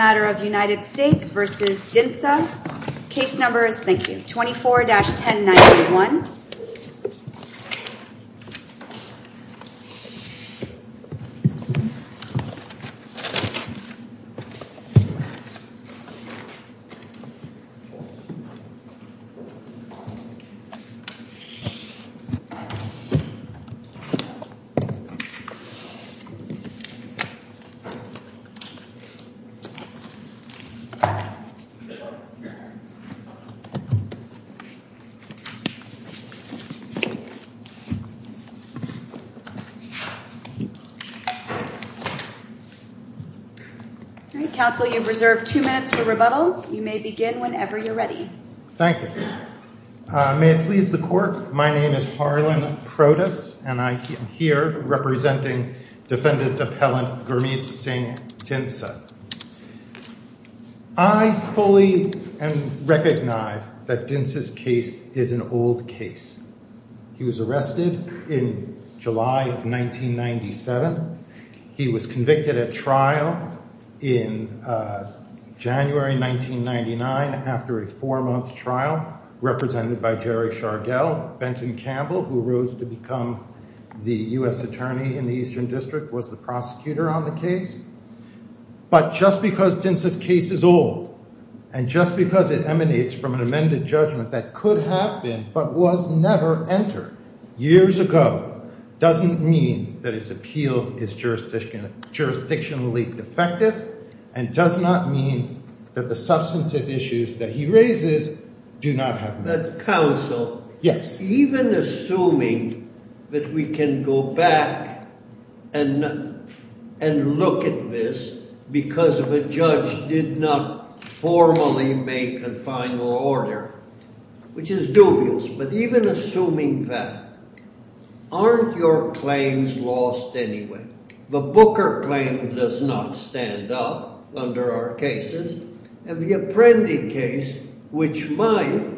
24-1091 May it please the court, my name is Harlan Protus and I am here representing Defendant Appellant Gurmeet Singh Dhinsa. I fully recognize that Dhinsa's case is an old case. He was arrested in July of 1997. He was convicted at trial in January 1999 after a four-month trial represented by Jerry Shargell. Benton Campbell, who rose to become the U.S. Attorney in the Eastern District, was the prosecutor on the case. But just because Dhinsa's case is old, and just because it emanates from an amended judgment that could have been, but was never entered years ago, doesn't mean that his appeal is jurisdictionally defective and does not mean that the substantive issues that he raises do not have merit. Counsel, even assuming that we can go back and look at this because of a judge did not formally make a final order, which is dubious, but even assuming that, aren't your claims lost anyway? The Booker claim does not stand up under our cases, and the Apprendi case, which might,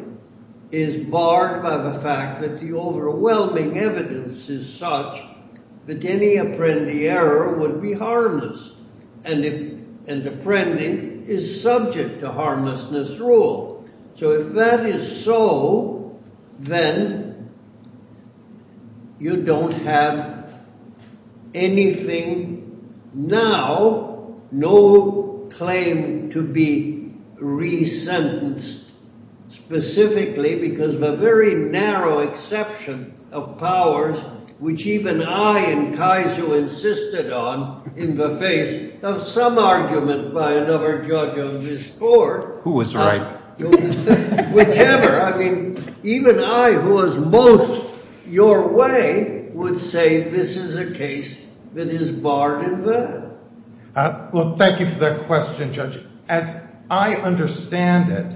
is barred by the fact that the overwhelming evidence is such that any Apprendi error would be harmless, and Apprendi is subject to harmlessness rule. So if that is so, then you don't have anything now, no claim to be re-sentenced, specifically because of a very narrow exception of powers, which even I and Kaizu insisted on in the face of some argument by another judge on this court. Who was right? Whichever, I mean, even I who was most your way would say this is a case that is barred in vain. Well, thank you for that question, Judge. As I understand it,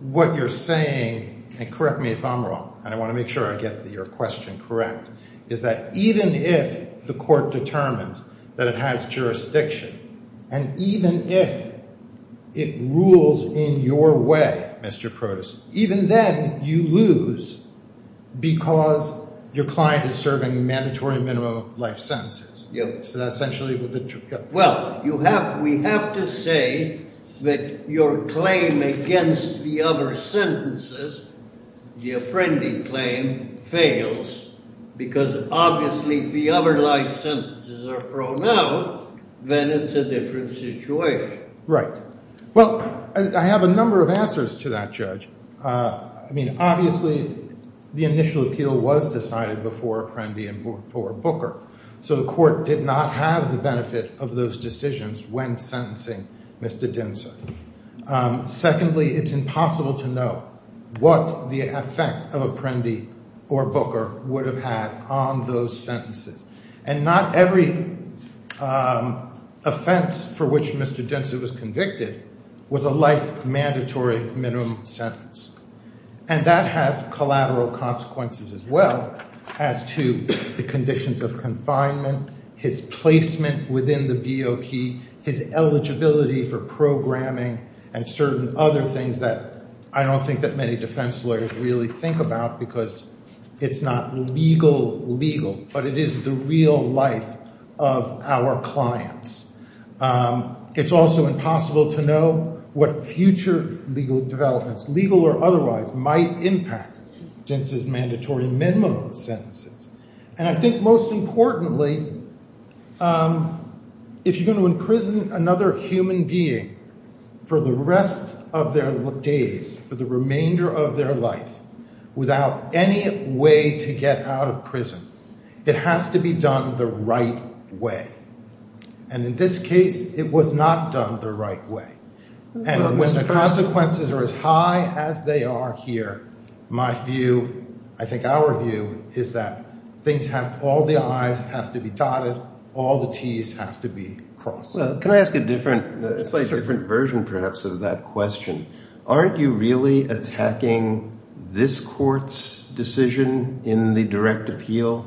what you're saying, and correct me if I'm wrong, and I want to make sure I get your question correct, is that even if the court determines that it has jurisdiction, and even if it rules in your way, Mr. Protestant, even then you lose because your client is serving mandatory minimum life sentences. Yeah. So that essentially would be true. Well, you have, we have to say that your claim against the other sentences, the Apprendi claim, fails because obviously if the other life sentences are thrown out, then it's a different situation. Right. Well, I have a number of answers to that, Judge. I mean, obviously, the initial appeal was decided before Apprendi and before Booker, so the court did not have the benefit of those decisions when sentencing Mr. Dinsa. Secondly, it's impossible to know what the effect of Apprendi or Booker would have had on those sentences. And not every offense for which Mr. Dinsa was convicted was a life mandatory minimum sentence. And that has collateral consequences as well as to the conditions of confinement, his placement within the BOP, his eligibility for programming, and certain other things that I don't think that many defense lawyers really think about because it's not legal, legal, but it is the real life of our clients. It's also impossible to know what future legal developments, legal or otherwise, might impact Dinsa's mandatory minimum sentences. And I think most importantly, if you're going to sentence someone for the remainder of their life without any way to get out of prison, it has to be done the right way. And in this case, it was not done the right way. And when the consequences are as high as they are here, my view, I think our view, is that things have, all the I's have to be dotted, all the T's have to be crossed. Well, can I ask a different, slightly different version, perhaps, of that question? Aren't you really attacking this court's decision in the direct appeal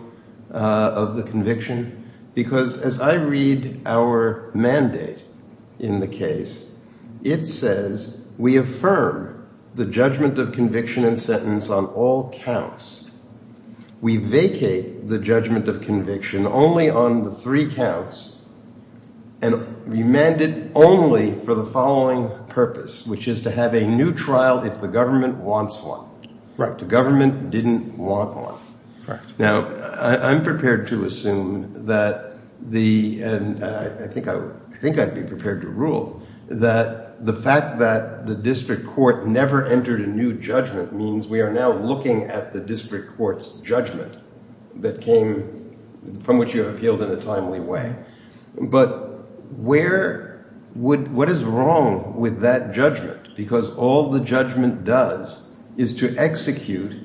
of the conviction? Because as I read our mandate in the case, it says, we affirm the judgment of conviction and sentence on all counts. We vacate the judgment of conviction only on the three counts and remand it only for the following purpose, which is to have a new trial if the government wants one. The government didn't want one. Now, I'm prepared to assume that the, and I think I'd be prepared to rule, that the fact that the district court never entered a new judgment means we are now looking at the district court's judgment that came, from which you have appealed in a timely way. But where, what is wrong with that judgment? Because all the judgment does is to execute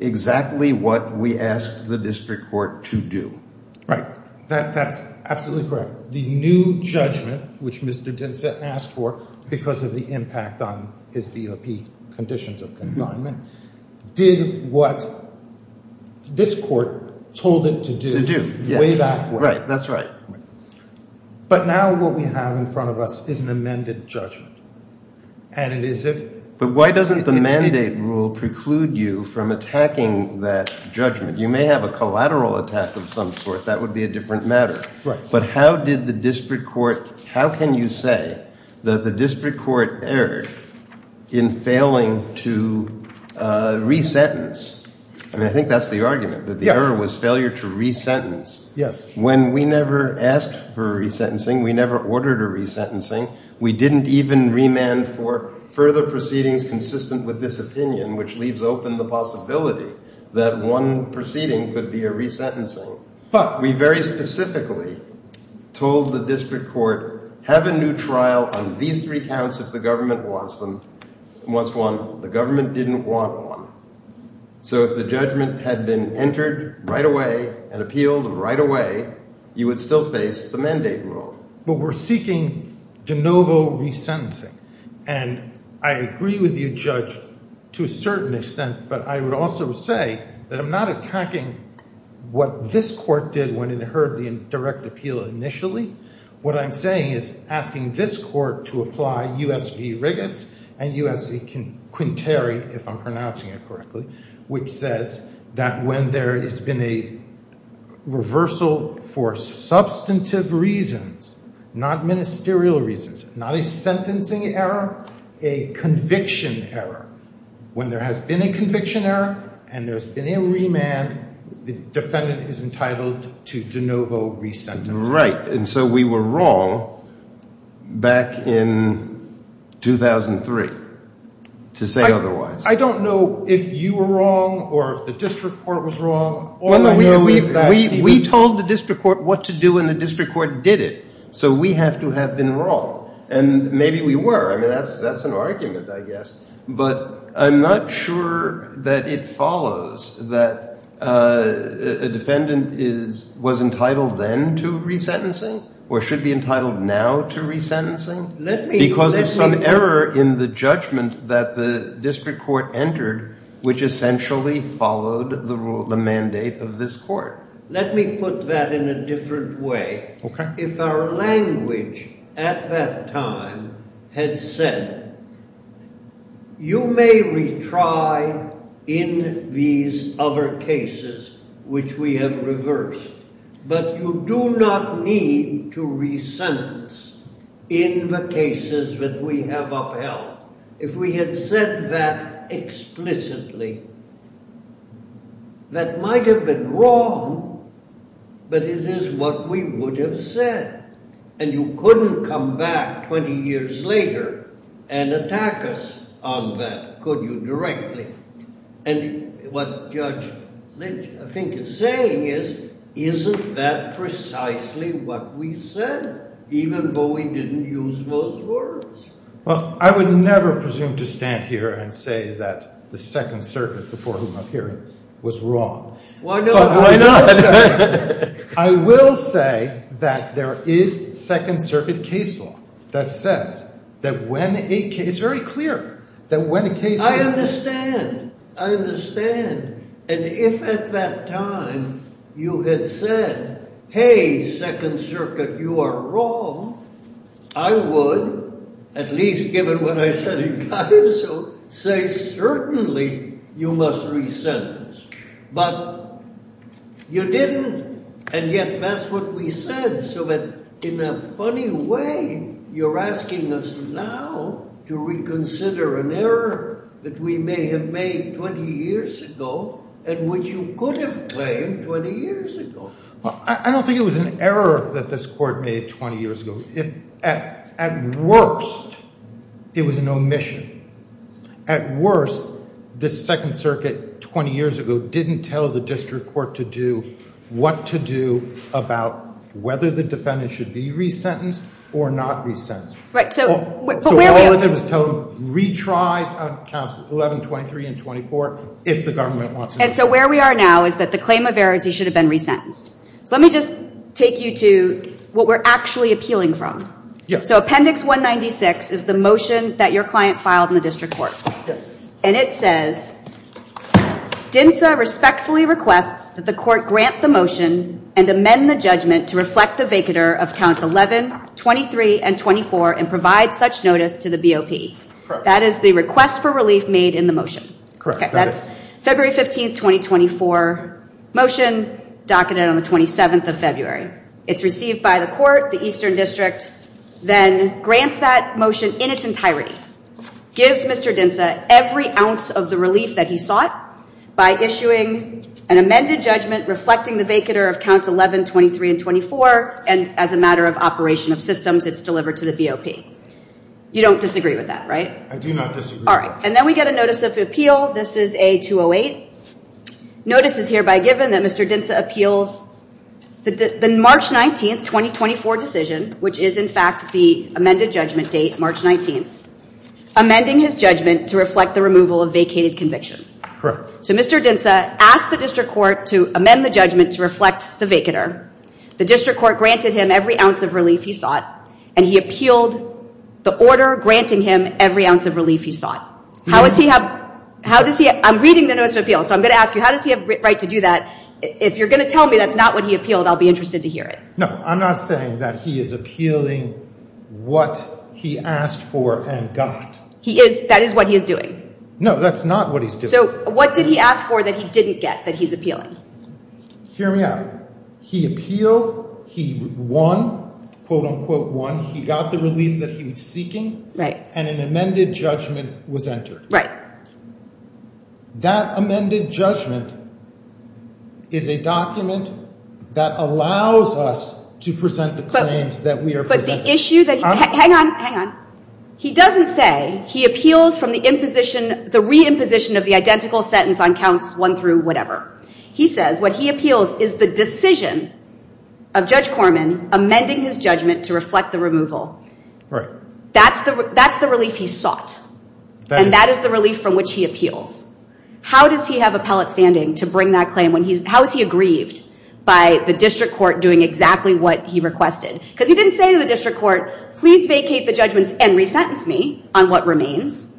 exactly what we asked the district court to do. Right. That's absolutely correct. The new judgment, which Mr. Dinsett asked for because of the impact on his DOP conditions of confinement, did what this court told it to do. To do, yes. Way back when. Right, that's right. But now what we have in front of us is an amended judgment. And it is if, if it didn't. But why doesn't the mandate rule preclude you from attacking that judgment? You may have a collateral attack of some sort. That would be a How did the district court, how can you say that the district court erred in failing to re-sentence? I mean, I think that's the argument. Yes. That the error was failure to re-sentence. Yes. When we never asked for a re-sentencing, we never ordered a re-sentencing. We didn't even remand for further proceedings consistent with this opinion, which leaves open the possibility that one proceeding could be a re-sentencing. But we very specifically told the district court, have a new trial on these three counts if the government wants them, wants one. The government didn't want one. So if the judgment had been entered right away and appealed right away, you would still face the mandate rule. But we're seeking de novo re-sentencing. And I agree with you, Judge, to a certain extent. But I would also say that I'm not attacking what this court did when it heard the direct appeal initially. What I'm saying is asking this court to apply U.S. v. Rigas and U.S. v. Quinteri, if I'm pronouncing it correctly, which says that when there has been a reversal for substantive reasons, not ministerial reasons, not a sentencing error, a conviction error, when there has been a conviction error and there's been a remand, the defendant is entitled to de novo re-sentencing. Right. And so we were wrong back in 2003 to say otherwise. I don't know if you were wrong or if the district court was wrong. We told the district court what to do and the district court did it. So we have to have been wrong. And maybe we were. I mean, that's an argument, I guess. But I'm not sure that it follows that a defendant was entitled then to re-sentencing or should be entitled now to re-sentencing because of some error in the judgment that the district court entered, which essentially followed the mandate of this court. Let me put that in a different way. If our language at that time had said, you may retry in these other cases which we have reversed, but you do not need to re-sentence in the cases that we have upheld. If we had said that explicitly, that might have been wrong, but it is what we would have said. And you couldn't come back 20 years later and attack us on that, could you, directly. And what Judge Lynch, I think, is saying is, isn't that precisely what we said, even though we didn't use those words? Well, I would never presume to stand here and say that the Second Circuit, before whom I'm hearing, was wrong. Why not? Why not? I will say that there is Second Circuit case law that says that when a case... It's very clear that when a case... I understand. I understand. And if at that time you had said, hey, Second Circuit, you are wrong, I would, at least given what I said in Caiso, say certainly you must re-sentence. But you didn't, and yet that's what we said, so that in a funny way, you're asking us now to reconsider an error that we may have made 20 years ago and which you could have claimed 20 years ago. Well, I don't think it was an error that this Court made 20 years ago. At worst, it was an omission. At worst, the Second Circuit, 20 years ago, didn't tell the District Court to do what to do about whether the defendant should be re-sentenced or not re-sentenced. Right, so... So all it did was tell them, retry, 11, 23, and 24, if the government wants to... And so where we are now is that the claim of error is he should have been re-sentenced. So let me just take you to what we're actually appealing from. Yes. So Appendix 196 is the motion that your client filed in the District Court. Yes. And it says, DINSA respectfully requests that the Court grant the motion and amend the judgment to reflect the vacatur of Counts 11, 23, and 24 and provide such notice to the BOP. Correct. That is the request for relief made in the motion. Correct, that is. Okay, that's February 15th, 2024 motion, docketed on the 27th of February. It's received by the Court, the Eastern District, then grants that motion in its entirety. Gives Mr. DINSA every ounce of the relief that he sought by issuing an amended judgment reflecting the vacatur of Counts 11, 23, and 24, and as a matter of operation of systems, it's delivered to the BOP. You don't disagree with that, right? I do not disagree. All right, and then we get a notice of appeal. This is A-208. Notice is hereby given that Mr. DINSA appeals the March 19th, 2024 decision, which is in fact the amended judgment date, March 19th, amending his judgment to reflect the removal of vacated convictions. Correct. So Mr. DINSA asked the District Court to amend the judgment to reflect the vacatur. The District Court granted him every ounce of relief he sought, and he appealed the order granting him every ounce of relief he sought. How does he have—I'm reading the notice of appeal, so I'm going to ask you, how does he have the right to do that? If you're going to tell me that's not what he appealed, I'll be interested to hear it. No, I'm not saying that he is appealing what he asked for and got. He is—that is what he is doing. No, that's not what he's doing. So what did he ask for that he didn't get that he's appealing? Hear me out. He appealed. He won, quote, unquote, won. He got the relief that he was seeking. Right. And an amended judgment was entered. Right. That amended judgment is a document that allows us to present the claims that we are presenting. But the issue that—hang on, hang on. He doesn't say he appeals from the imposition—the re-imposition of the identical sentence on counts one through whatever. He says what he appeals is the decision of Judge Corman amending his judgment to reflect the removal. That's the—that's the relief he sought. And that is the relief from which he appeals. How does he have appellate standing to bring that claim when he's—how is he aggrieved by the district court doing exactly what he requested? Because he didn't say to the district court, please vacate the judgments and re-sentence me on what remains.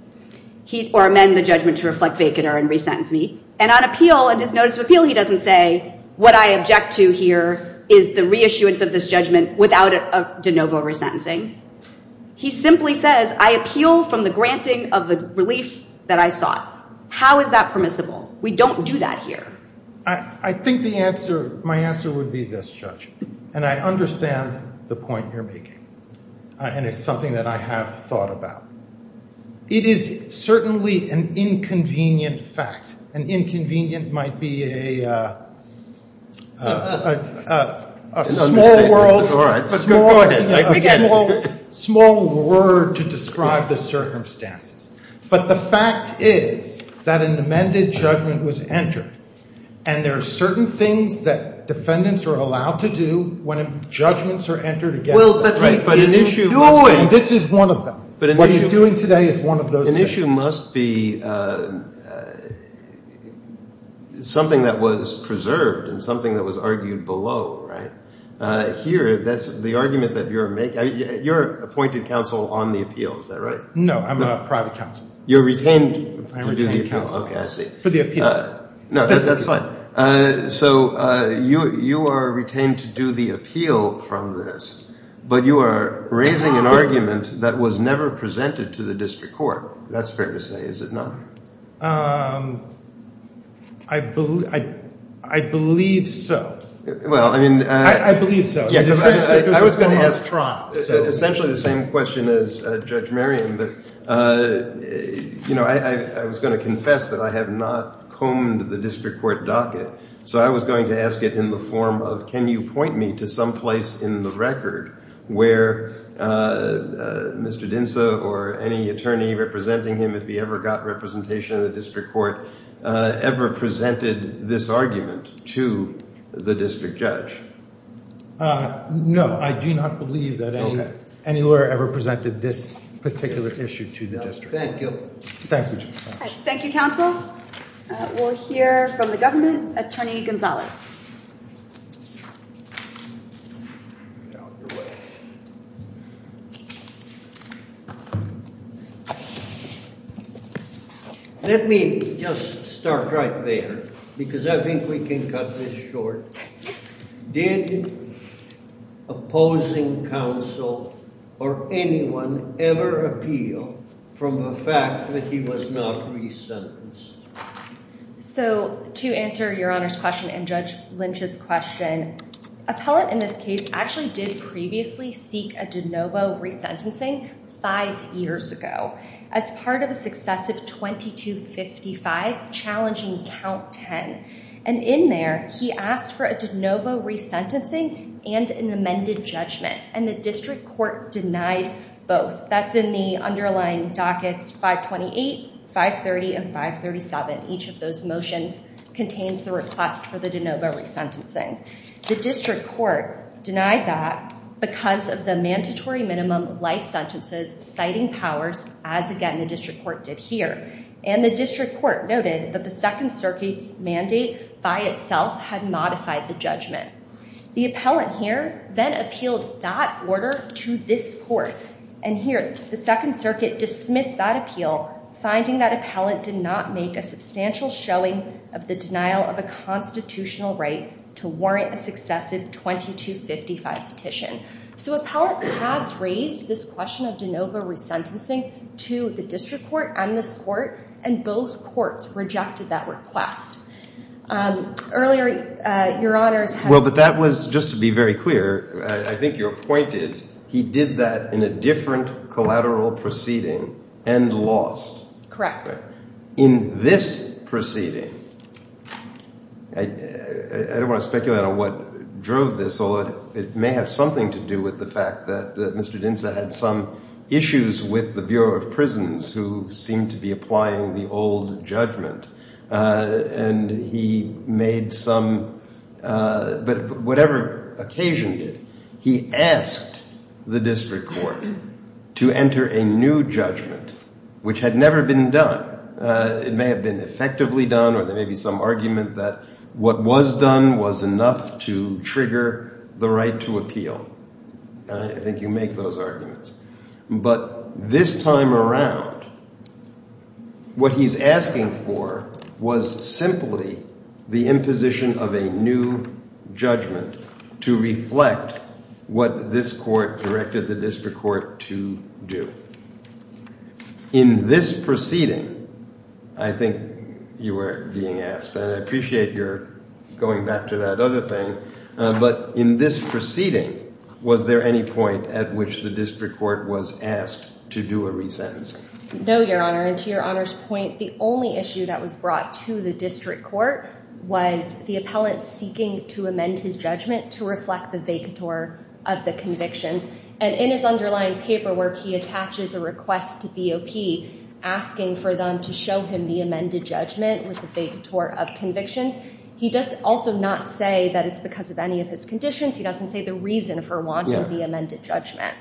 He—or amend the judgment to reflect vacant or re-sentence me. And on appeal, in his notice of appeal, he doesn't say what I object to here is the re-issuance of this judgment without a de novo re-sentencing. He simply says I appeal from the granting of the relief that I sought. How is that permissible? We don't do that here. I think the answer—my answer would be this, Judge. And I understand the point you're making. And it's something that I have thought about. It is certainly an inconvenient fact. An inconvenient might be a—a small world— It's all right. But go ahead. I can begin. A small—small word to describe the circumstances. But the fact is that an amended judgment was entered. And there are certain things that defendants are allowed to do when judgments are entered against them. Well, but an issue— And this is one of them. But an issue— What he's doing today is one of those things. An issue must be something that was preserved and something that was argued below, right? Here, that's the argument that you're making. You're appointed counsel on the appeal. Is that right? No, I'm a private counsel. You're retained to do the appeal. Okay, I see. For the appeal. No, that's fine. So you—you are retained to do the appeal from this. But you are raising an argument that was never presented to the district court. That's fair to say, is it not? I believe—I believe so. Well, I mean— I believe so. Yeah, because I was going to ask Tron. Essentially the same question as Judge Marion. But, you know, I was going to confess that I have not combed the district court docket. So I was going to ask it in the form of, can you point me to some place in the record where Mr. Dinsa or any attorney representing him, if he ever got representation in the district court, ever presented this argument to the district judge? No, I do not believe that any lawyer ever presented this particular issue to the district. Thank you. Thank you, Judge. Thank you, counsel. We'll hear from the government. Attorney Gonzalez. Let me just start right there, because I think we can cut this short. Did opposing counsel or anyone ever appeal from the fact that he was not re-sentenced? So to answer Your Honor's question and Judge Lynch's question, appellate in this case actually did previously present this case to the district court. He did previously seek a de novo re-sentencing five years ago as part of a successive 2255 challenging count 10. And in there, he asked for a de novo re-sentencing and an amended judgment. And the district court denied both. That's in the underlying dockets 528, 530, and 537. Each of those motions contains the request for the de novo re-sentencing. The district court denied that because of the mandatory minimum life sentences citing powers, as again, the district court did here. And the district court noted that the Second Circuit's mandate by itself had modified the The appellant here then appealed that order to this court. And here, the Second Circuit dismissed that appeal, finding that appellant did not make a substantial showing of the denial of a constitutional right to warrant a successive 2255 petition. So appellant has raised this question of de novo re-sentencing to the district court and this court. And both courts rejected that request. Earlier, Your Honor's had Well, but that was just to be very clear. I think your point is he did that in a different collateral proceeding and lost. Correct. In this proceeding, I don't want to speculate on what drove this, although it may have something to do with the fact that Mr. Dinsa had some issues with the Bureau of Prisons who seemed to be applying the old judgment. And he made some, but whatever occasion did, he asked the district court to enter a new which had never been done. It may have been effectively done, or there may be some argument that what was done was enough to trigger the right to appeal. And I think you make those arguments. But this time around, what he's asking for was simply the imposition of a new judgment to reflect what this court directed the district court to do. In this proceeding, I think you were being asked, and I appreciate you're going back to that other thing. But in this proceeding, was there any point at which the district court was asked to do a resentencing? No, Your Honor. And to Your Honor's point, the only issue that was brought to the district court was the appellant seeking to amend his judgment to reflect the vacatur of the convictions. And in his underlying paperwork, he attaches a request to BOP asking for them to show him the amended judgment with the vacatur of convictions. He does also not say that it's because of any of his conditions. He doesn't say the reason for wanting the amended judgment.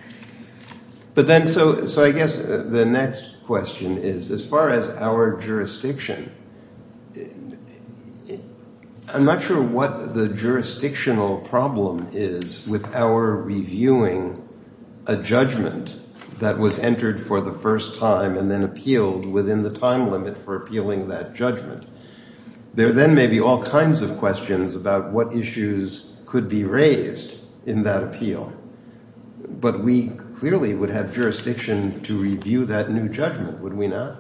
But then, so I guess the next question is, as far as our jurisdiction, I'm not sure what the jurisdictional problem is with our reviewing a judgment that was entered for the first time and then appealed within the time limit for appealing that judgment. There then may be all kinds of questions about what issues could be raised in that appeal. But we clearly would have jurisdiction to review that new judgment, would we not?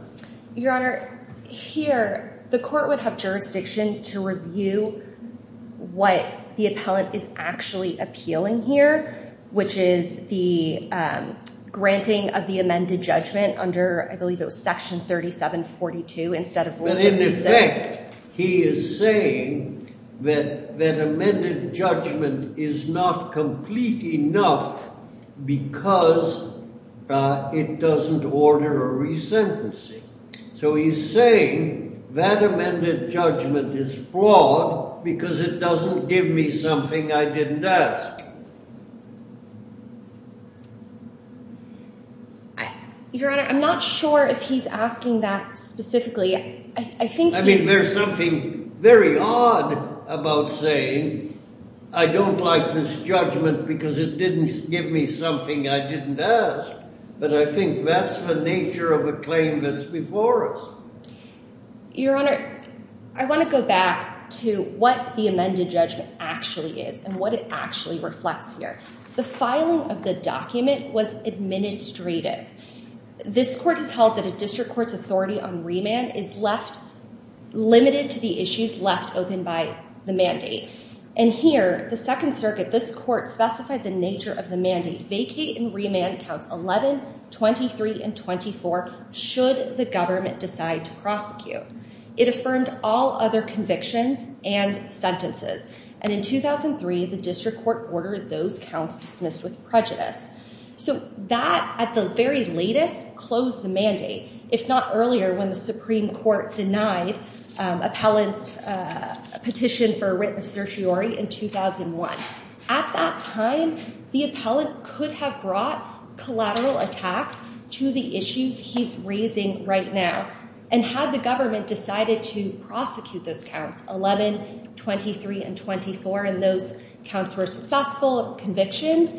Your Honor, here, the court would have jurisdiction to review what the appellant is actually appealing here, which is the granting of the amended judgment under, I believe it was section 3742, instead of... But in effect, he is saying that that amended judgment is not complete enough because it doesn't order a resentencing. So he's saying that amended judgment is flawed because it doesn't give me something I didn't ask. Your Honor, I'm not sure if he's asking that specifically. I mean, there's something very odd about saying, I don't like this judgment because it didn't give me something I didn't ask. But I think that's the nature of a claim that's before us. Your Honor, I want to go back to what the amended judgment actually is and what it actually reflects here. The filing of the document was administrative. This court has held that a district court's authority on remand is limited to the issues left open by the mandate. And here, the Second Circuit, this court specified the nature of the mandate, vacate and remand counts 11, 23, and 24 should the government decide to prosecute. It affirmed all other convictions and sentences. And in 2003, the district court ordered those counts dismissed with prejudice. So that, at the very latest, closed the mandate, if not earlier, when the Supreme Court denied appellant's petition for writ of certiorari in 2001. At that time, the appellant could have brought collateral attacks to the issues he's raising right now. And had the government decided to prosecute those counts, 11, 23, and 24, and those counts were successful convictions,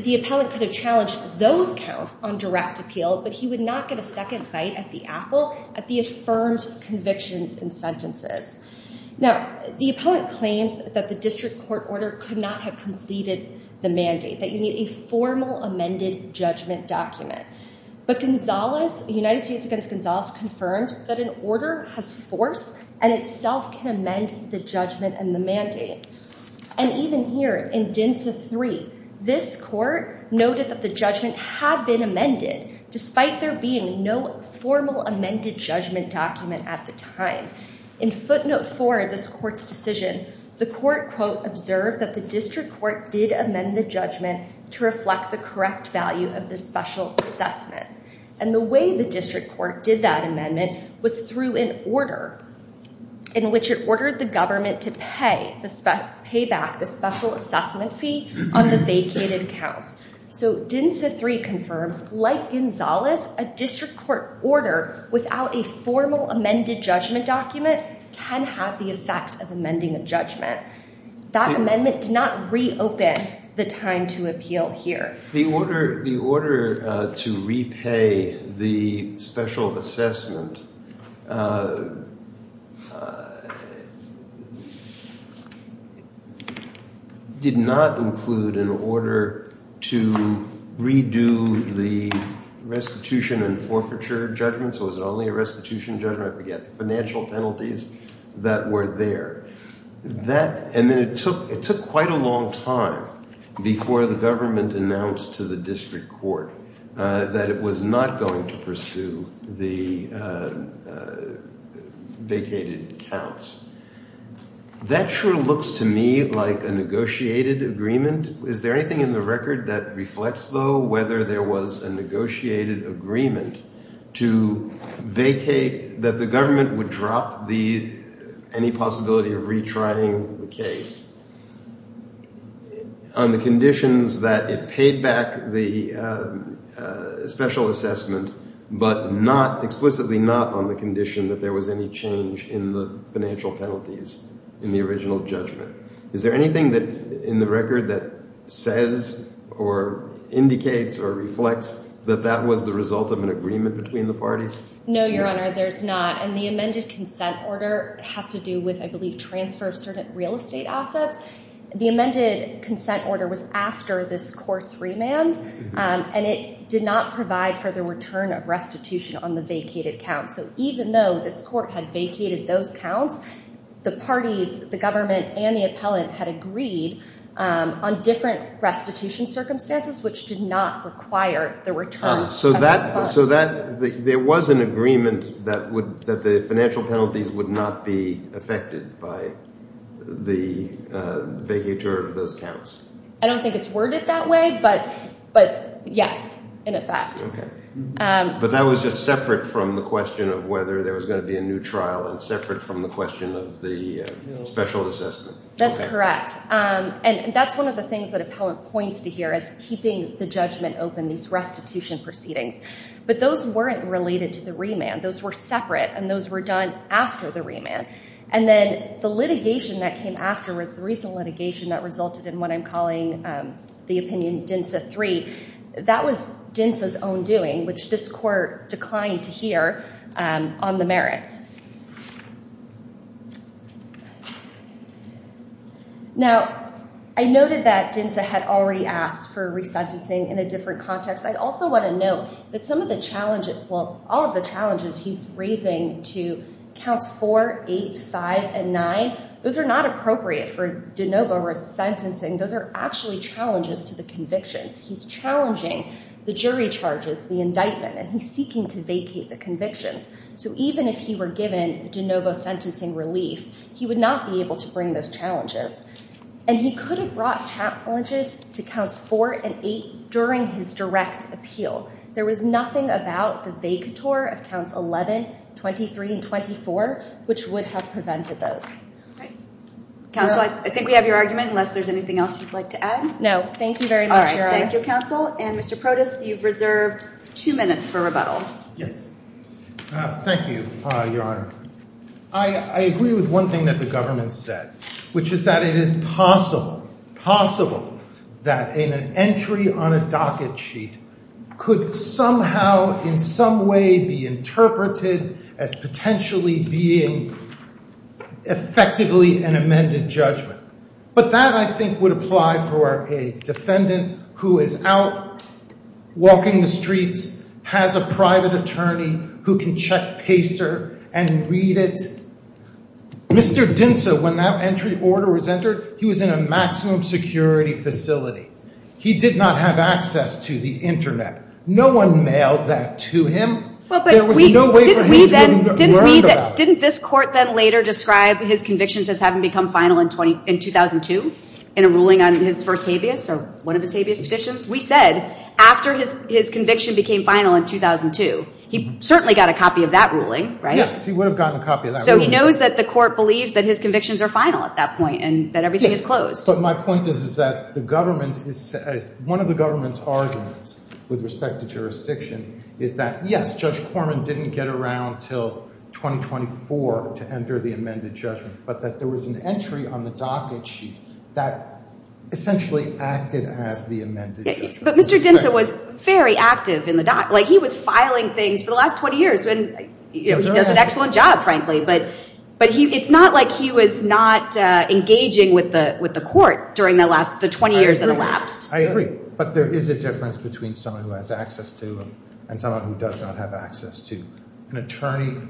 the appellant could have challenged those counts on direct appeal. But he would not get a second bite at the apple at the affirmed convictions and sentences. Now, the appellant claims that the district court order could not have completed the mandate, that you need a formal amended judgment document. But the United States against Gonzalez confirmed that an order has force and itself can amend the judgment and the mandate. And even here, in DENSA 3, this court noted that the judgment had been amended despite there being no formal amended judgment document at the time. In footnote 4 of this court's decision, the court, quote, observed that the district court did amend the judgment to reflect the correct value of the special assessment. And the way the district court did that amendment was through an order in which it ordered the government to pay back the special assessment fee on the vacated counts. So DENSA 3 confirms, like Gonzalez, a district court order without a formal amended judgment document can have the effect of amending a judgment. That amendment did not reopen the time to appeal here. The order to repay the special assessment did not include an order to redo the restitution and forfeiture judgment. So it was only a restitution judgment, I forget, the financial penalties that were there. And then it took quite a long time before the government announced to the district court that it was not going to pursue the vacated counts. That sure looks to me like a negotiated agreement. Is there anything in the record that reflects, though, whether there was a negotiated agreement to vacate, that the government would drop any possibility of retrying the case on the conditions that it paid back the special assessment, but explicitly not on the condition that there was any change in the financial penalties in the original judgment? Is there anything in the record that says or indicates or reflects that that was the result of an agreement between the parties? No, Your Honor, there's not. And the amended consent order has to do with, I believe, transfer of certain real estate assets. The amended consent order was after this court's remand, and it did not provide for the return of restitution on the vacated counts. So even though this court had vacated those counts, the parties, the government and the appellant, had agreed on different restitution circumstances, which did not require the return of the funds. So there was an agreement that the financial penalties would not be affected by the vacatur of those counts? I don't think it's worded that way, but yes, in effect. But that was just separate from the question of whether there was going to be a new trial and separate from the question of the special assessment. That's correct. And that's one of the things that appellant points to here, is keeping the judgment open, these restitution proceedings. But those weren't related to the remand. Those were separate, and those were done after the remand. And then the litigation that came afterwards, the recent litigation that resulted in what I'm calling the opinion DINSA 3, that was DINSA's own doing, which this court declined to hear on the merits. Now, I noted that DINSA had already asked for resentencing in a different context. I also want to note that some of the challenges, well, all of the challenges he's raising to counts 4, 8, 5, and 9, those are not appropriate for de novo resentencing. Those are actually challenges to the convictions. He's challenging the jury charges, the indictment, and he's seeking to vacate the convictions. So even if he were given de novo sentencing relief, he would not be able to bring those challenges. And he could have brought challenges to counts 4 and 8 during his direct appeal. There was nothing about the vacatur of counts 11, 23, and 24, which would have prevented those. Counsel, I think we have your argument, unless there's anything else you'd like to add? No, thank you very much, Your Honor. All right, thank you, counsel. And Mr. Protas, you've reserved two minutes for rebuttal. Yes, thank you, Your Honor. I agree with one thing that the government said, which is that it is possible, possible, that an entry on a docket sheet could somehow, in some way, be interpreted as potentially being effectively an amended judgment. But that, I think, would apply for a defendant who is out walking the streets, has a private attorney who can check PACER and read it. Mr. Dinsa, when that entry order was entered, he was in a maximum security facility. He did not have access to the internet. No one mailed that to him. Well, but we didn't. Didn't this court then later describe his convictions as having become final in 2002 in a ruling on his first habeas, or one of his habeas petitions? We said, after his conviction became final in 2002, he certainly got a copy of that ruling, right? Yes, he would have gotten a copy of that ruling. So he knows that the court believes that his convictions are final at that point, and that everything is closed. But my point is that one of the government's arguments with respect to jurisdiction is that, yes, Judge Corman didn't get around until 2024 to enter the amended judgment, but that there was an entry on the docket sheet that essentially acted as the amended judgment. But Mr. Dinsa was very active in the docket. He was filing things for the last 20 years. He does an excellent job, frankly. But it's not like he was not engaging with the court during the 20 years it elapsed. I agree. But there is a difference between someone who has access to them and someone who does not have access to an attorney,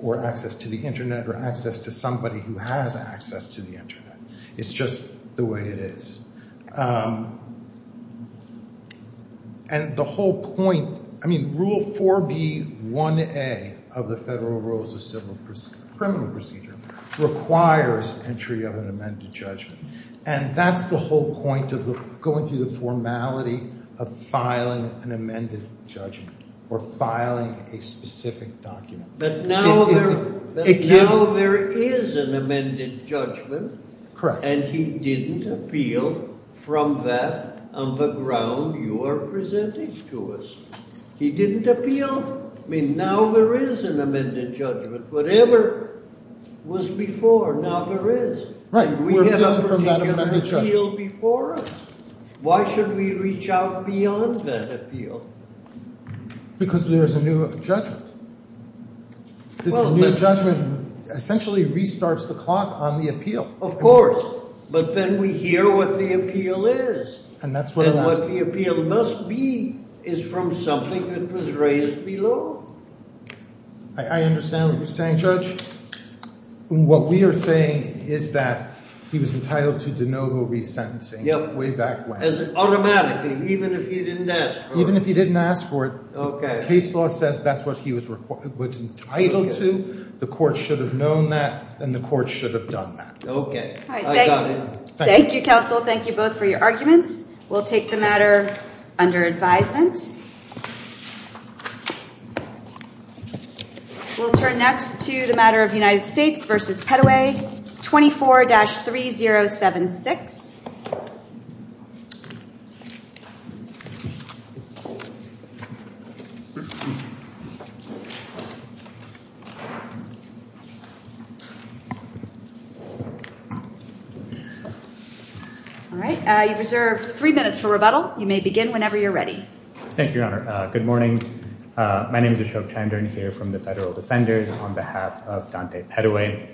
or access to the internet, or access to somebody who has access to the internet. It's just the way it is. And the whole point, I mean, Rule 4B1A of the Federal Rules of Criminal Procedure requires entry of an amended judgment. And that's the whole point of going through the formality of filing an amended judgment, or filing a specific document. But now there is an amended judgment. Correct. And he didn't appeal. From that, on the ground you are presenting to us. He didn't appeal. I mean, now there is an amended judgment. Whatever was before, now there is. Right. We have a particular appeal before us. Why should we reach out beyond that appeal? Because there is a new judgment. This new judgment essentially restarts the clock on the appeal. Of course. But then we hear what the appeal is. And what the appeal must be is from something that was raised below. I understand what you're saying, Judge. What we are saying is that he was entitled to de novo resentencing way back when. As in automatically, even if he didn't ask for it. Even if he didn't ask for it, the case law says that's what he was entitled to. The court should have known that, and the court should have done that. Okay. Thank you, counsel. Thank you both for your arguments. We'll take the matter under advisement. We'll turn next to the matter of United States v. Peddoway, 24-3076. All right. You've reserved three minutes for rebuttal. You may begin whenever you're ready. Thank you, Your Honor. Good morning. My name is Ashok Chandran here from the Federal Defenders on behalf of Dante Peddoway.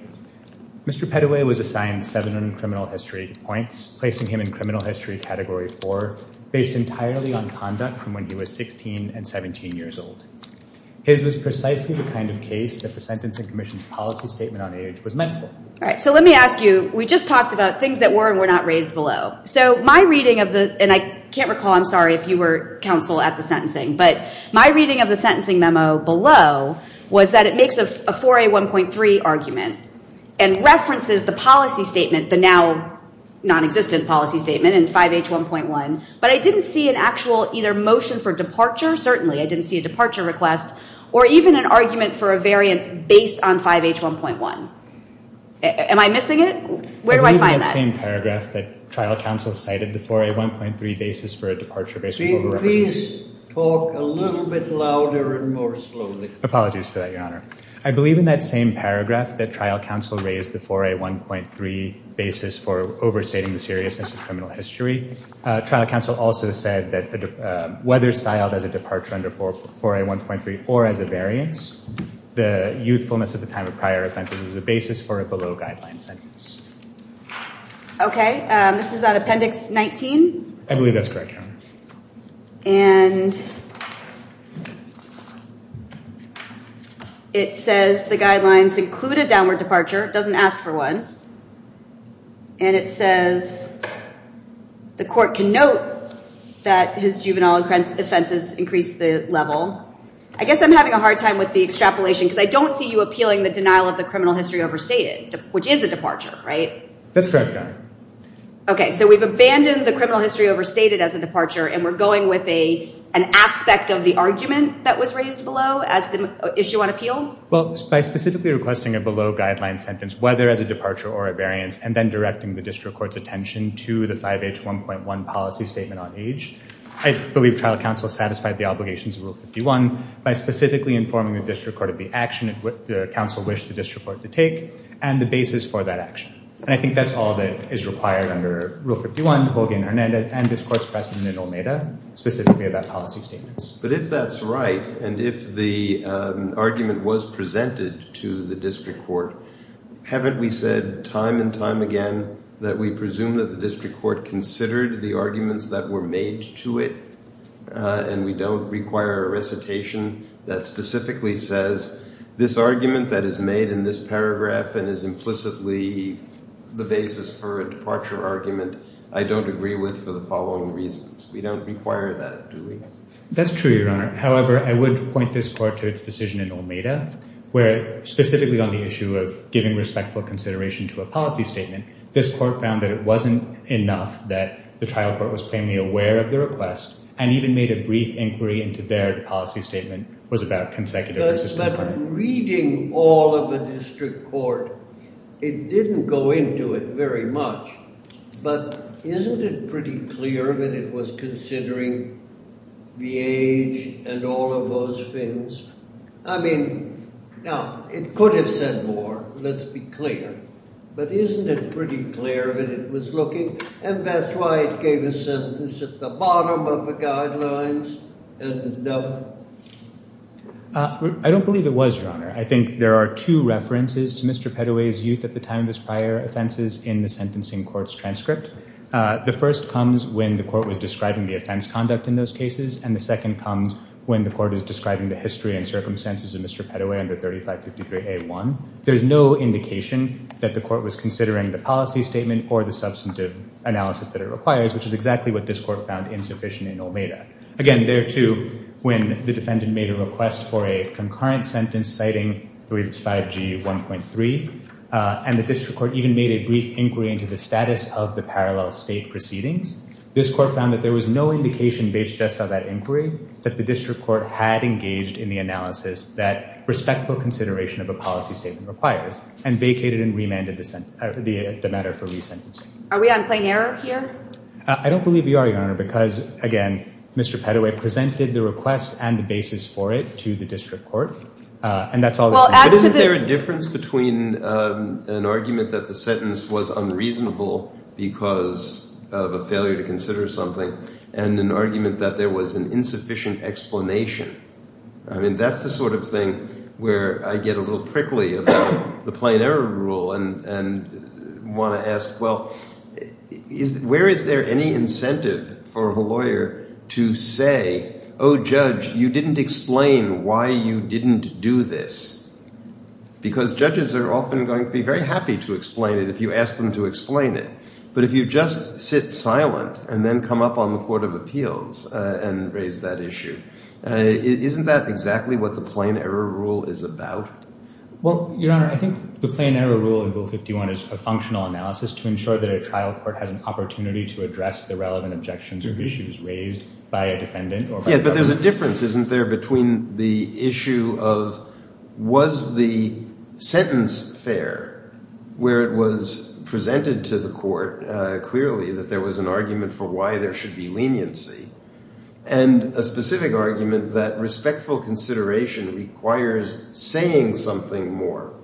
Mr. Peddoway was assigned seven criminal history points, placing him in criminal history category four, based entirely on conduct from when he was 16 and 17 years old. His was precisely the kind of case that the Sentencing Commission's policy statement on age was meant for. So let me ask you, we just talked about things that were and were not raised below. So my reading of the, and I can't recall, I'm sorry if you were counsel at the sentencing, but my reading of the sentencing memo below was that it makes a 4A1.3 argument and references the policy statement, the now non-existent policy statement in 5H1.1, but I didn't see an actual either motion for departure, certainly I didn't see a departure request, or even an argument for a variance based on 5H1.1. Am I missing it? Where do I find that? I believe in that same paragraph that trial counsel cited the 4A1.3 basis for a departure based on... Can you please talk a little bit louder and more slowly? Apologies for that, Your Honor. I believe in that same paragraph that trial counsel raised the 4A1.3 basis for overstating the seriousness of criminal history. Trial counsel also said that whether styled as a departure under 4A1.3 or as a variance, the youthfulness at the time of prior offenses was a basis for a below guideline sentence. Okay, this is on Appendix 19? I believe that's correct, Your Honor. And it says the guidelines include a downward departure, it doesn't ask for one, and it says the court can note that his juvenile offenses increased the level. I guess I'm having a hard time with the extrapolation, because I don't see you appealing the denial of the criminal history overstated, which is a departure, right? That's correct, Your Honor. Okay, so we've abandoned the criminal history overstated as a departure, and we're going with an aspect of the argument that was raised below as the issue on appeal? Well, by specifically requesting a below guideline sentence, whether as a departure or a variance, and then directing the district court's attention to the 5H1.1 policy statement on age, I believe trial counsel satisfied the obligations of Rule 51 by specifically informing the district court of the action that the counsel wished the district court to take and the basis for that action. And I think that's all that is required under Rule 51, Hogan, Hernandez, and this court's precedent in OMEDA, specifically about policy statements. But if that's right, and if the argument was presented to the district court, haven't we said time and time again that we presume that the district court considered the arguments that were made to it, and we don't require a recitation that specifically says, this argument that is made in this paragraph, and is implicitly the basis for a departure argument, I don't agree with for the following reasons. We don't require that, do we? That's true, Your Honor. However, I would point this court to its decision in OMEDA, where specifically on the issue of giving respectful consideration to a policy statement, this court found that it wasn't enough that the trial court was plainly aware of the request, and even made a brief inquiry into their policy statement was about consecutive... But reading all of the district court, it didn't go into it very much. But isn't it pretty clear that it was considering the age and all of those things? I mean, now, it could have said more, let's be clear. But isn't it pretty clear that it was looking, and that's why it gave a sentence at the bottom of the guidelines, and no... I don't believe it was, Your Honor. I think there are two references to Mr. Pettoway's youth at the time of his prior offenses in the sentencing court's transcript. The first comes when the court was describing the offense conduct in those cases, and the second comes when the court is describing the history and circumstances of Mr. Pettoway under 3553A1. There's no indication that the court was considering the policy statement or the substantive analysis that it requires, which is exactly what this court found insufficient in Olmeda. Again, there too, when the defendant made a request for a concurrent sentence citing 35G1.3, and the district court even made a brief inquiry into the status of the parallel state proceedings, this court found that there was no indication based just on that inquiry that the district court had engaged in the analysis that respectful consideration of a policy statement requires, and vacated and remanded the matter for re-sentencing. Are we on plain error here? I don't believe you are, Your Honor, because again, Mr. Pettoway presented the request and the basis for it to the district court, and that's all that's... Isn't there a difference between an argument that the sentence was unreasonable because of a failure to consider something, and an argument that there was an insufficient explanation? I mean, that's the sort of thing where I get a little prickly about the plain error rule and want to ask, well, where is there any incentive for a lawyer to say, oh, judge, you didn't explain why you didn't do this? Because judges are often going to be very happy to explain it if you ask them to explain it. But if you just sit silent and then come up on the Court of Appeals and raise that issue, isn't that exactly what the plain error rule is about? Well, Your Honor, I think the plain error rule in Bill 51 is a functional analysis to ensure that a trial court has an opportunity to address the relevant objections or issues raised by a defendant or by... Yeah, but there's a difference, isn't there, between the issue of was the sentence fair where it was presented to the court clearly that there was an argument for why there should be leniency, and a specific argument that respectful consideration requires saying something more.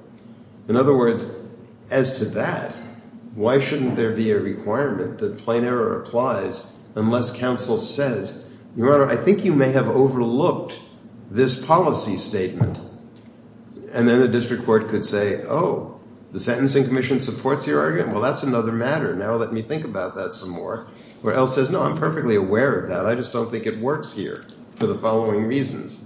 In other words, as to that, why shouldn't there be a requirement that plain error applies unless counsel says, Your Honor, I think you may have overlooked this policy statement. And then the district court could say, oh, the Sentencing Commission supports your argument? Well, that's another matter. Now let me think about that some more. Or else says, no, I'm perfectly aware of that. I just don't think it works here for the following reasons.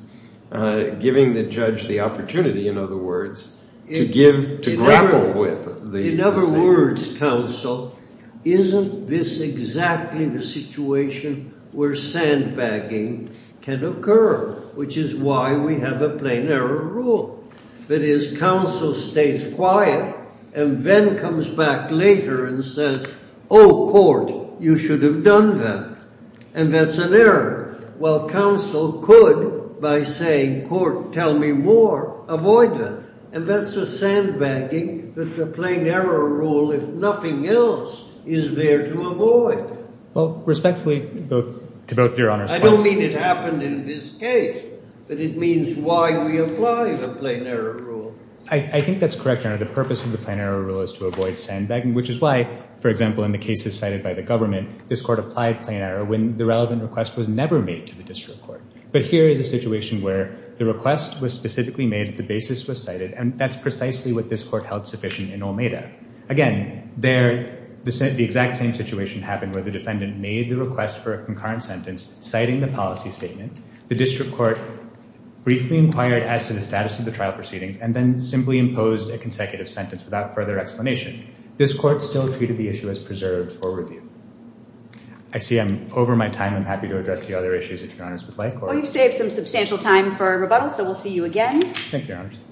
Giving the judge the opportunity, in other words, to give, to grapple with the... In other words, counsel, isn't this exactly the situation where sandbagging can occur, which is why we have a plain error rule. That is, counsel stays quiet and then comes back later and says, oh, court, you should have done that. And that's an error. While counsel could, by saying, court, tell me more, avoid that. And that's a sandbagging that the plain error rule, if nothing else, is there to avoid. Well, respectfully, to both of your honors... I don't mean it happened in this case, but it means why we apply the plain error rule. I think that's correct, Your Honor. The purpose of the plain error rule is to avoid sandbagging, which is why, for example, in the cases cited by the government, this court applied plain error when the relevant request was never made to the district court. But here is a situation where the request was specifically made, the basis was cited, and that's precisely what this court held sufficient in Olmeda. Again, there, the exact same situation happened where the defendant made the request for a concurrent sentence, citing the policy statement. The district court briefly inquired as to the status of the trial proceedings and then simply imposed a consecutive sentence without further explanation. This court still treated the issue as preserved for review. I see I'm over my time. I'm happy to address the other issues if Your Honors would like. Well, you've saved some substantial time for rebuttal, so we'll see you again. Thank you, Your Honors.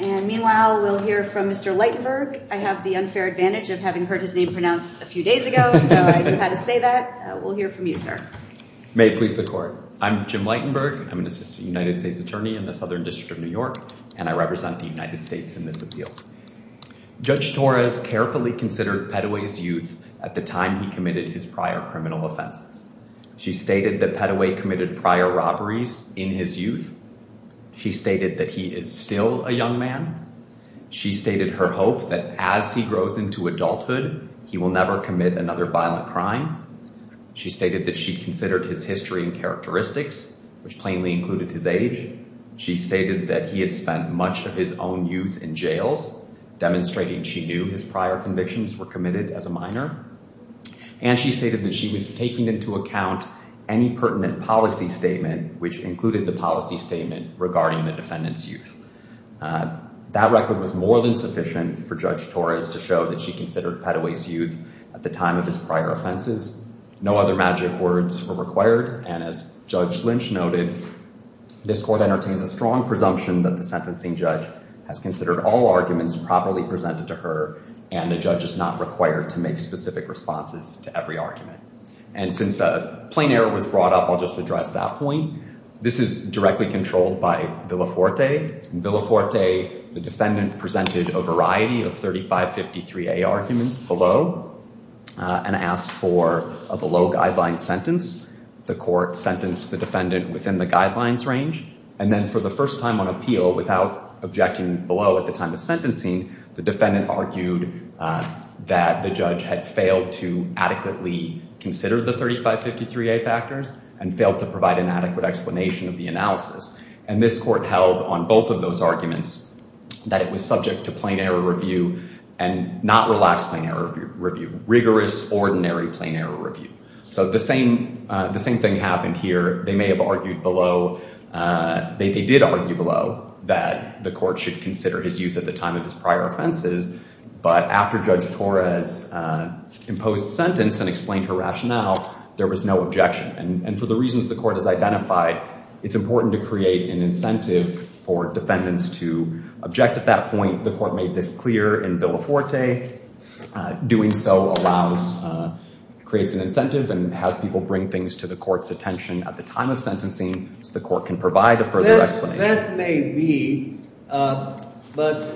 And meanwhile, we'll hear from Mr. Lightenberg. I have the unfair advantage of having heard his name pronounced a few days ago, so I knew how to say that. We'll hear from you, sir. May it please the court. I'm Jim Lightenberg. I'm an assistant United States attorney in the Southern District of New York, and I represent the United States in this appeal. Judge Torres carefully considered Petaway's youth at the time he committed his prior criminal offenses. She stated that Petaway committed prior robberies in his youth. She stated that he is still a young man. She stated her hope that as he grows into adulthood, he will never commit another violent crime. She stated that she considered his history and characteristics, which plainly included his age. She stated that he had spent much of his own youth in jails demonstrating she knew his prior convictions were committed as a minor. And she stated that she was taking into account any pertinent policy statement, which included the policy statement regarding the defendant's youth. That record was more than sufficient for Judge Torres to show that she considered Petaway's youth at the time of his prior offenses. No other magic words were required. And as Judge Lynch noted, this court entertains a strong presumption that the sentencing judge has considered all arguments properly presented to her and the judge is not required to make specific responses to every argument. And since a plain error was brought up, I'll just address that point. This is directly controlled by Villaforte. In Villaforte, the defendant presented a variety of 3553A arguments below and asked for a below-guideline sentence. The court sentenced the defendant within the guidelines range. And then for the first time on appeal, without objecting below at the time of sentencing, the defendant argued that the judge had failed to adequately consider the 3553A factors and failed to provide an adequate explanation of the analysis. And this court held on both of those arguments that it was subject to plain error review and not relaxed plain error review, rigorous, ordinary plain error review. So the same thing happened here. They may have argued below. They did argue below that the court should consider his use at the time of his prior offenses. But after Judge Torres imposed sentence and explained her rationale, there was no objection. And for the reasons the court has identified, it's important to create an incentive for defendants to object at that point. The court made this clear in Villaforte. Doing so allows, creates an incentive and has people bring things to the court's attention at the time of sentencing so the court can provide a further explanation. That may be. But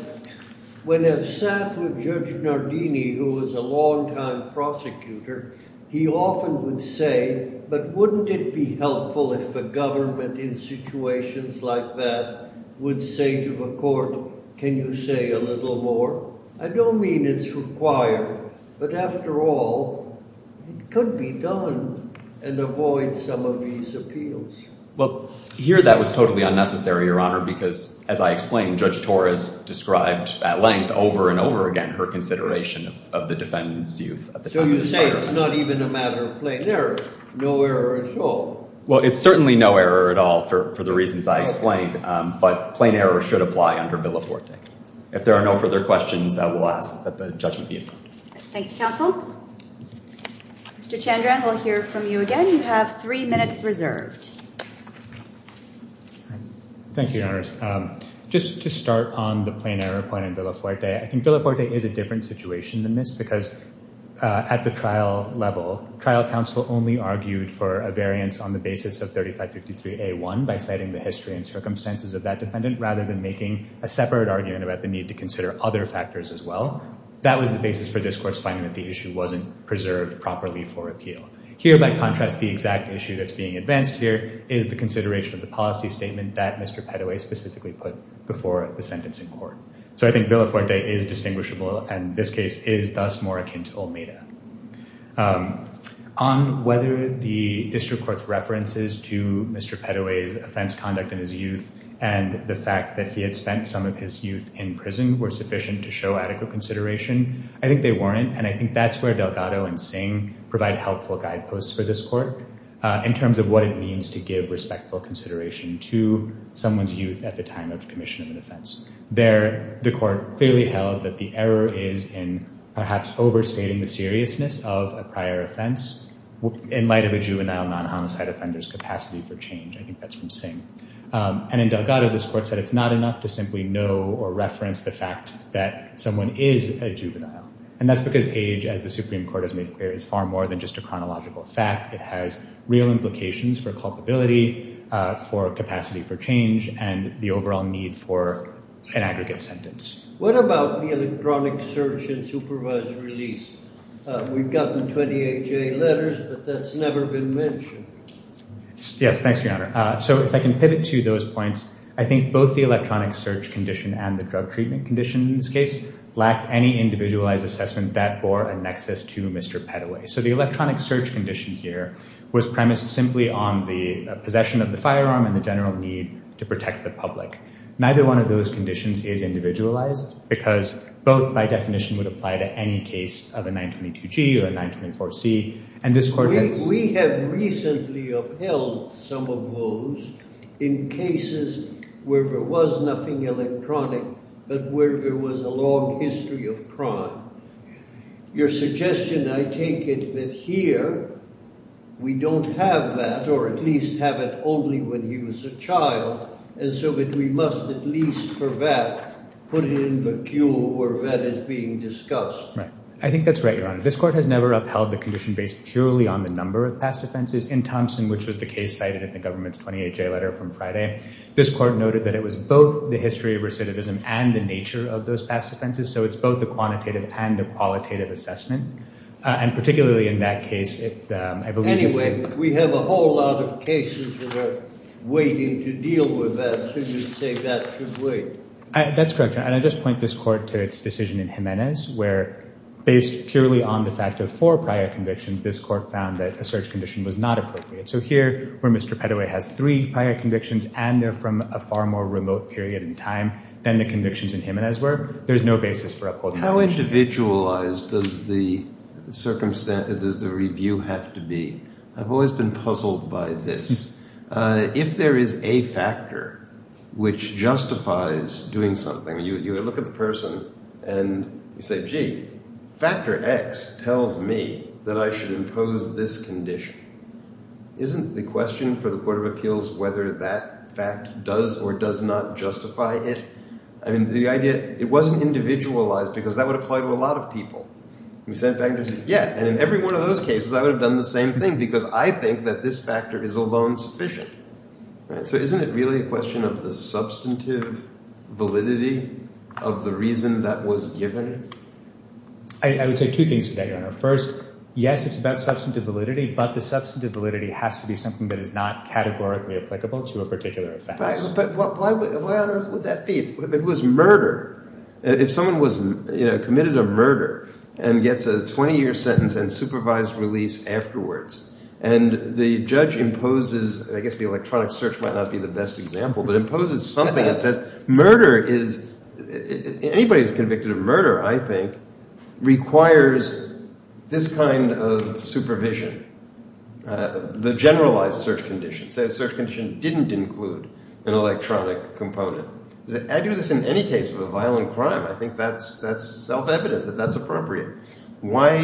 when I've sat with Judge Nardini, who was a long-time prosecutor, he often would say, but wouldn't it be helpful if the government in situations like that would say to the court, can you say a little more? I don't mean it's required. But after all, it could be done. And avoid some of these appeals. Well, here that was totally unnecessary, Your Honor, because as I explained, Judge Torres described at length over and over again her consideration of the defendant's use at the time of his prior offenses. So you say it's not even a matter of plain error. No error at all. Well, it's certainly no error at all for the reasons I explained. But plain error should apply under Villaforte. If there are no further questions, I will ask that the judgment be adjourned. Thank you, counsel. Mr. Chandran, we'll hear from you again. You have three minutes reserved. Thank you, Your Honors. Just to start on the plain error point in Villaforte, I think Villaforte is a different situation than this, because at the trial level, trial counsel only argued for a variance on the basis of 3553A1 by citing the history and circumstances of that defendant rather than making a separate argument about the need to consider other factors as well. That was the basis for this court's finding that the issue wasn't preserved properly for appeal. Here, by contrast, the exact issue that's being advanced here is the consideration of the policy statement that Mr. Pettoway specifically put before the sentencing court. So I think Villaforte is distinguishable, and this case is thus more akin to Olmeda. On whether the district court's references to Mr. Pettoway's offense conduct in his youth and the fact that he had spent some of his youth in prison were sufficient to show adequate consideration. I think they weren't, and I think that's where Delgado and Singh provide helpful guideposts for this court in terms of what it means to give respectful consideration to someone's youth at the time of commission of an offense. There, the court clearly held that the error is in perhaps overstating the seriousness of a prior offense in light of a juvenile non-homicide offender's capacity for change. I think that's from Singh. And in Delgado, this court said it's not enough to simply know or reference the fact that someone is a juvenile. And that's because age, as the Supreme Court has made clear, is far more than just a chronological fact. It has real implications for culpability, for capacity for change, and the overall need for an aggregate sentence. What about the electronic search and supervised release? We've gotten 28 J letters, but that's never been mentioned. Yes, thanks, Your Honor. So if I can pivot to those points, I think both the electronic search condition and the drug treatment condition in this case lacked any individualized assessment that bore a nexus to Mr. Peddoway. So the electronic search condition here was premised simply on the possession of the firearm and the general need to protect the public. Neither one of those conditions is individualized because both by definition would apply to any case of a 922G or a 924C. And this court has... We have recently upheld some of those in cases where there was nothing electronic but where there was a long history of crime. Your suggestion, I take it, that here we don't have that or at least have it only when he was a child and so that we must at least, for that, put it in the queue where that is being discussed. Right. I think that's right, Your Honor. This court has never upheld the condition based purely on the number of past offenses. In Thompson, which was the case cited in the government's 28-J letter from Friday, this court noted that it was both the history of recidivism and the nature of those past offenses. So it's both a quantitative and a qualitative assessment. And particularly in that case, I believe... Anyway, we have a whole lot of cases that are waiting to deal with that. So you say that should wait. That's correct, Your Honor. And I just point this court to its decision in Jimenez where based purely on the fact of four prior convictions, this court found that a search condition was not appropriate. So here, where Mr. Pettoway has three prior convictions and they're from a far more remote period in time than the convictions in Jimenez were, there's no basis for upholding the condition. How individualized does the review have to be? I've always been puzzled by this. If there is a factor which justifies doing something, you look at the person and you say, gee, factor X tells me that I should impose this condition. Isn't the question for the Court of Appeals whether that fact does or does not justify it? I mean, the idea... It wasn't individualized because that would apply to a lot of people. We said factors... Yeah, and in every one of those cases, I would have done the same thing because I think that this factor is alone sufficient. So isn't it really a question of the substantive validity of the reason that was given? I would say two things today, Your Honor. First, yes, it's about substantive validity, but the substantive validity has to be something that is not categorically applicable to a particular offense. But why on earth would that be? It was murder. If someone committed a murder and gets a 20-year sentence and supervised release afterwards, and the judge imposes, I guess the electronic search might not be the best example, but imposes something that says murder is... Anybody who's convicted of murder, I think, requires this kind of supervision. The generalized search condition says search condition didn't include an electronic component. I do this in any case of a violent crime. I think that's self-evident that that's appropriate. Why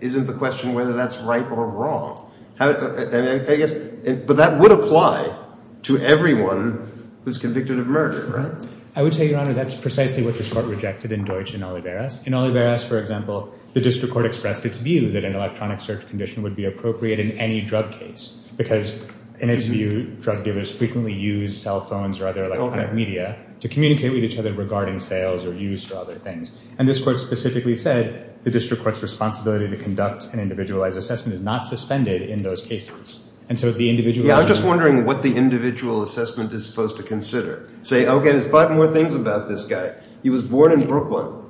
isn't the question whether that's right or wrong? But that would apply to everyone who's convicted of murder, right? I would say, Your Honor, that's precisely what this court rejected in Deutsch and Oliveras. In Oliveras, for example, the district court expressed its view that an electronic search condition would be appropriate in any drug case because, in its view, drug dealers frequently use cell phones or other electronic media to communicate with each other regarding sales or use or other things. And this court specifically said the district court's responsibility to conduct an individualized assessment is not suspended in those cases. And so the individual... Yeah, I'm just wondering what the individual assessment is supposed to consider. Say, okay, there's five more things about this guy. He was born in Brooklyn,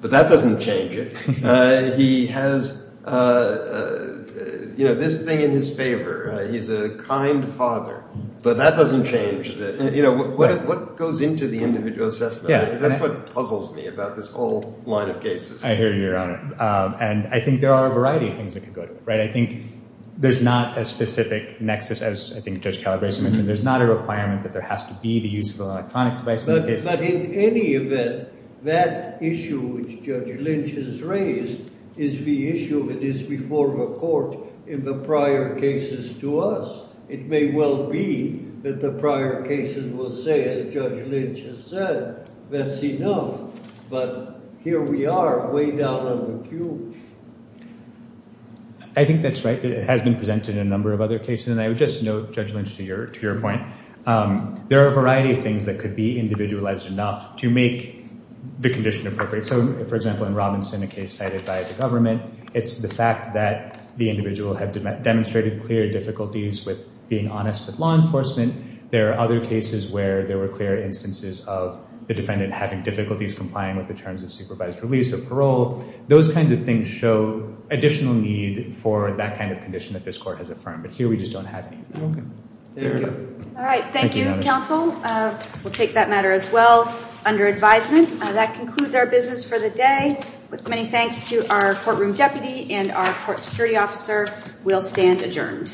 but that doesn't change it. He has, you know, this thing in his favor. He's a kind father, but that doesn't change it. You know, what goes into the individual assessment? That's what puzzles me about this whole line of cases. I hear you, Your Honor. And I think there are a variety of things that could go to it, right? I think there's not a specific nexus as I think Judge Calabresi mentioned. There's not a requirement that there has to be the use of an electronic device in the case. But in any event, that issue which Judge Lynch has raised is the issue that is before the court in the prior cases to us. It may well be that the prior cases will say, as Judge Lynch has said, that's enough. But here we are way down on the queue. I think that's right. It has been presented in a number of other cases. And I would just note, Judge Lynch, to your point, there are a variety of things that could be individualized enough to make the condition appropriate. So for example, in Robinson, a case cited by the government, it's the fact that the individual had demonstrated clear difficulties with being honest with law enforcement. There are other cases where there were clear instances of the defendant having difficulties complying with the terms of supervised release or parole. Those kinds of things show additional need for that kind of condition that this court has affirmed. But here we just don't have any. All right. Thank you, counsel. We'll take that matter as well. Under advisement, that concludes our business for the day. With many thanks to our courtroom deputy and our court security officer, we'll stand adjourned. Thank you.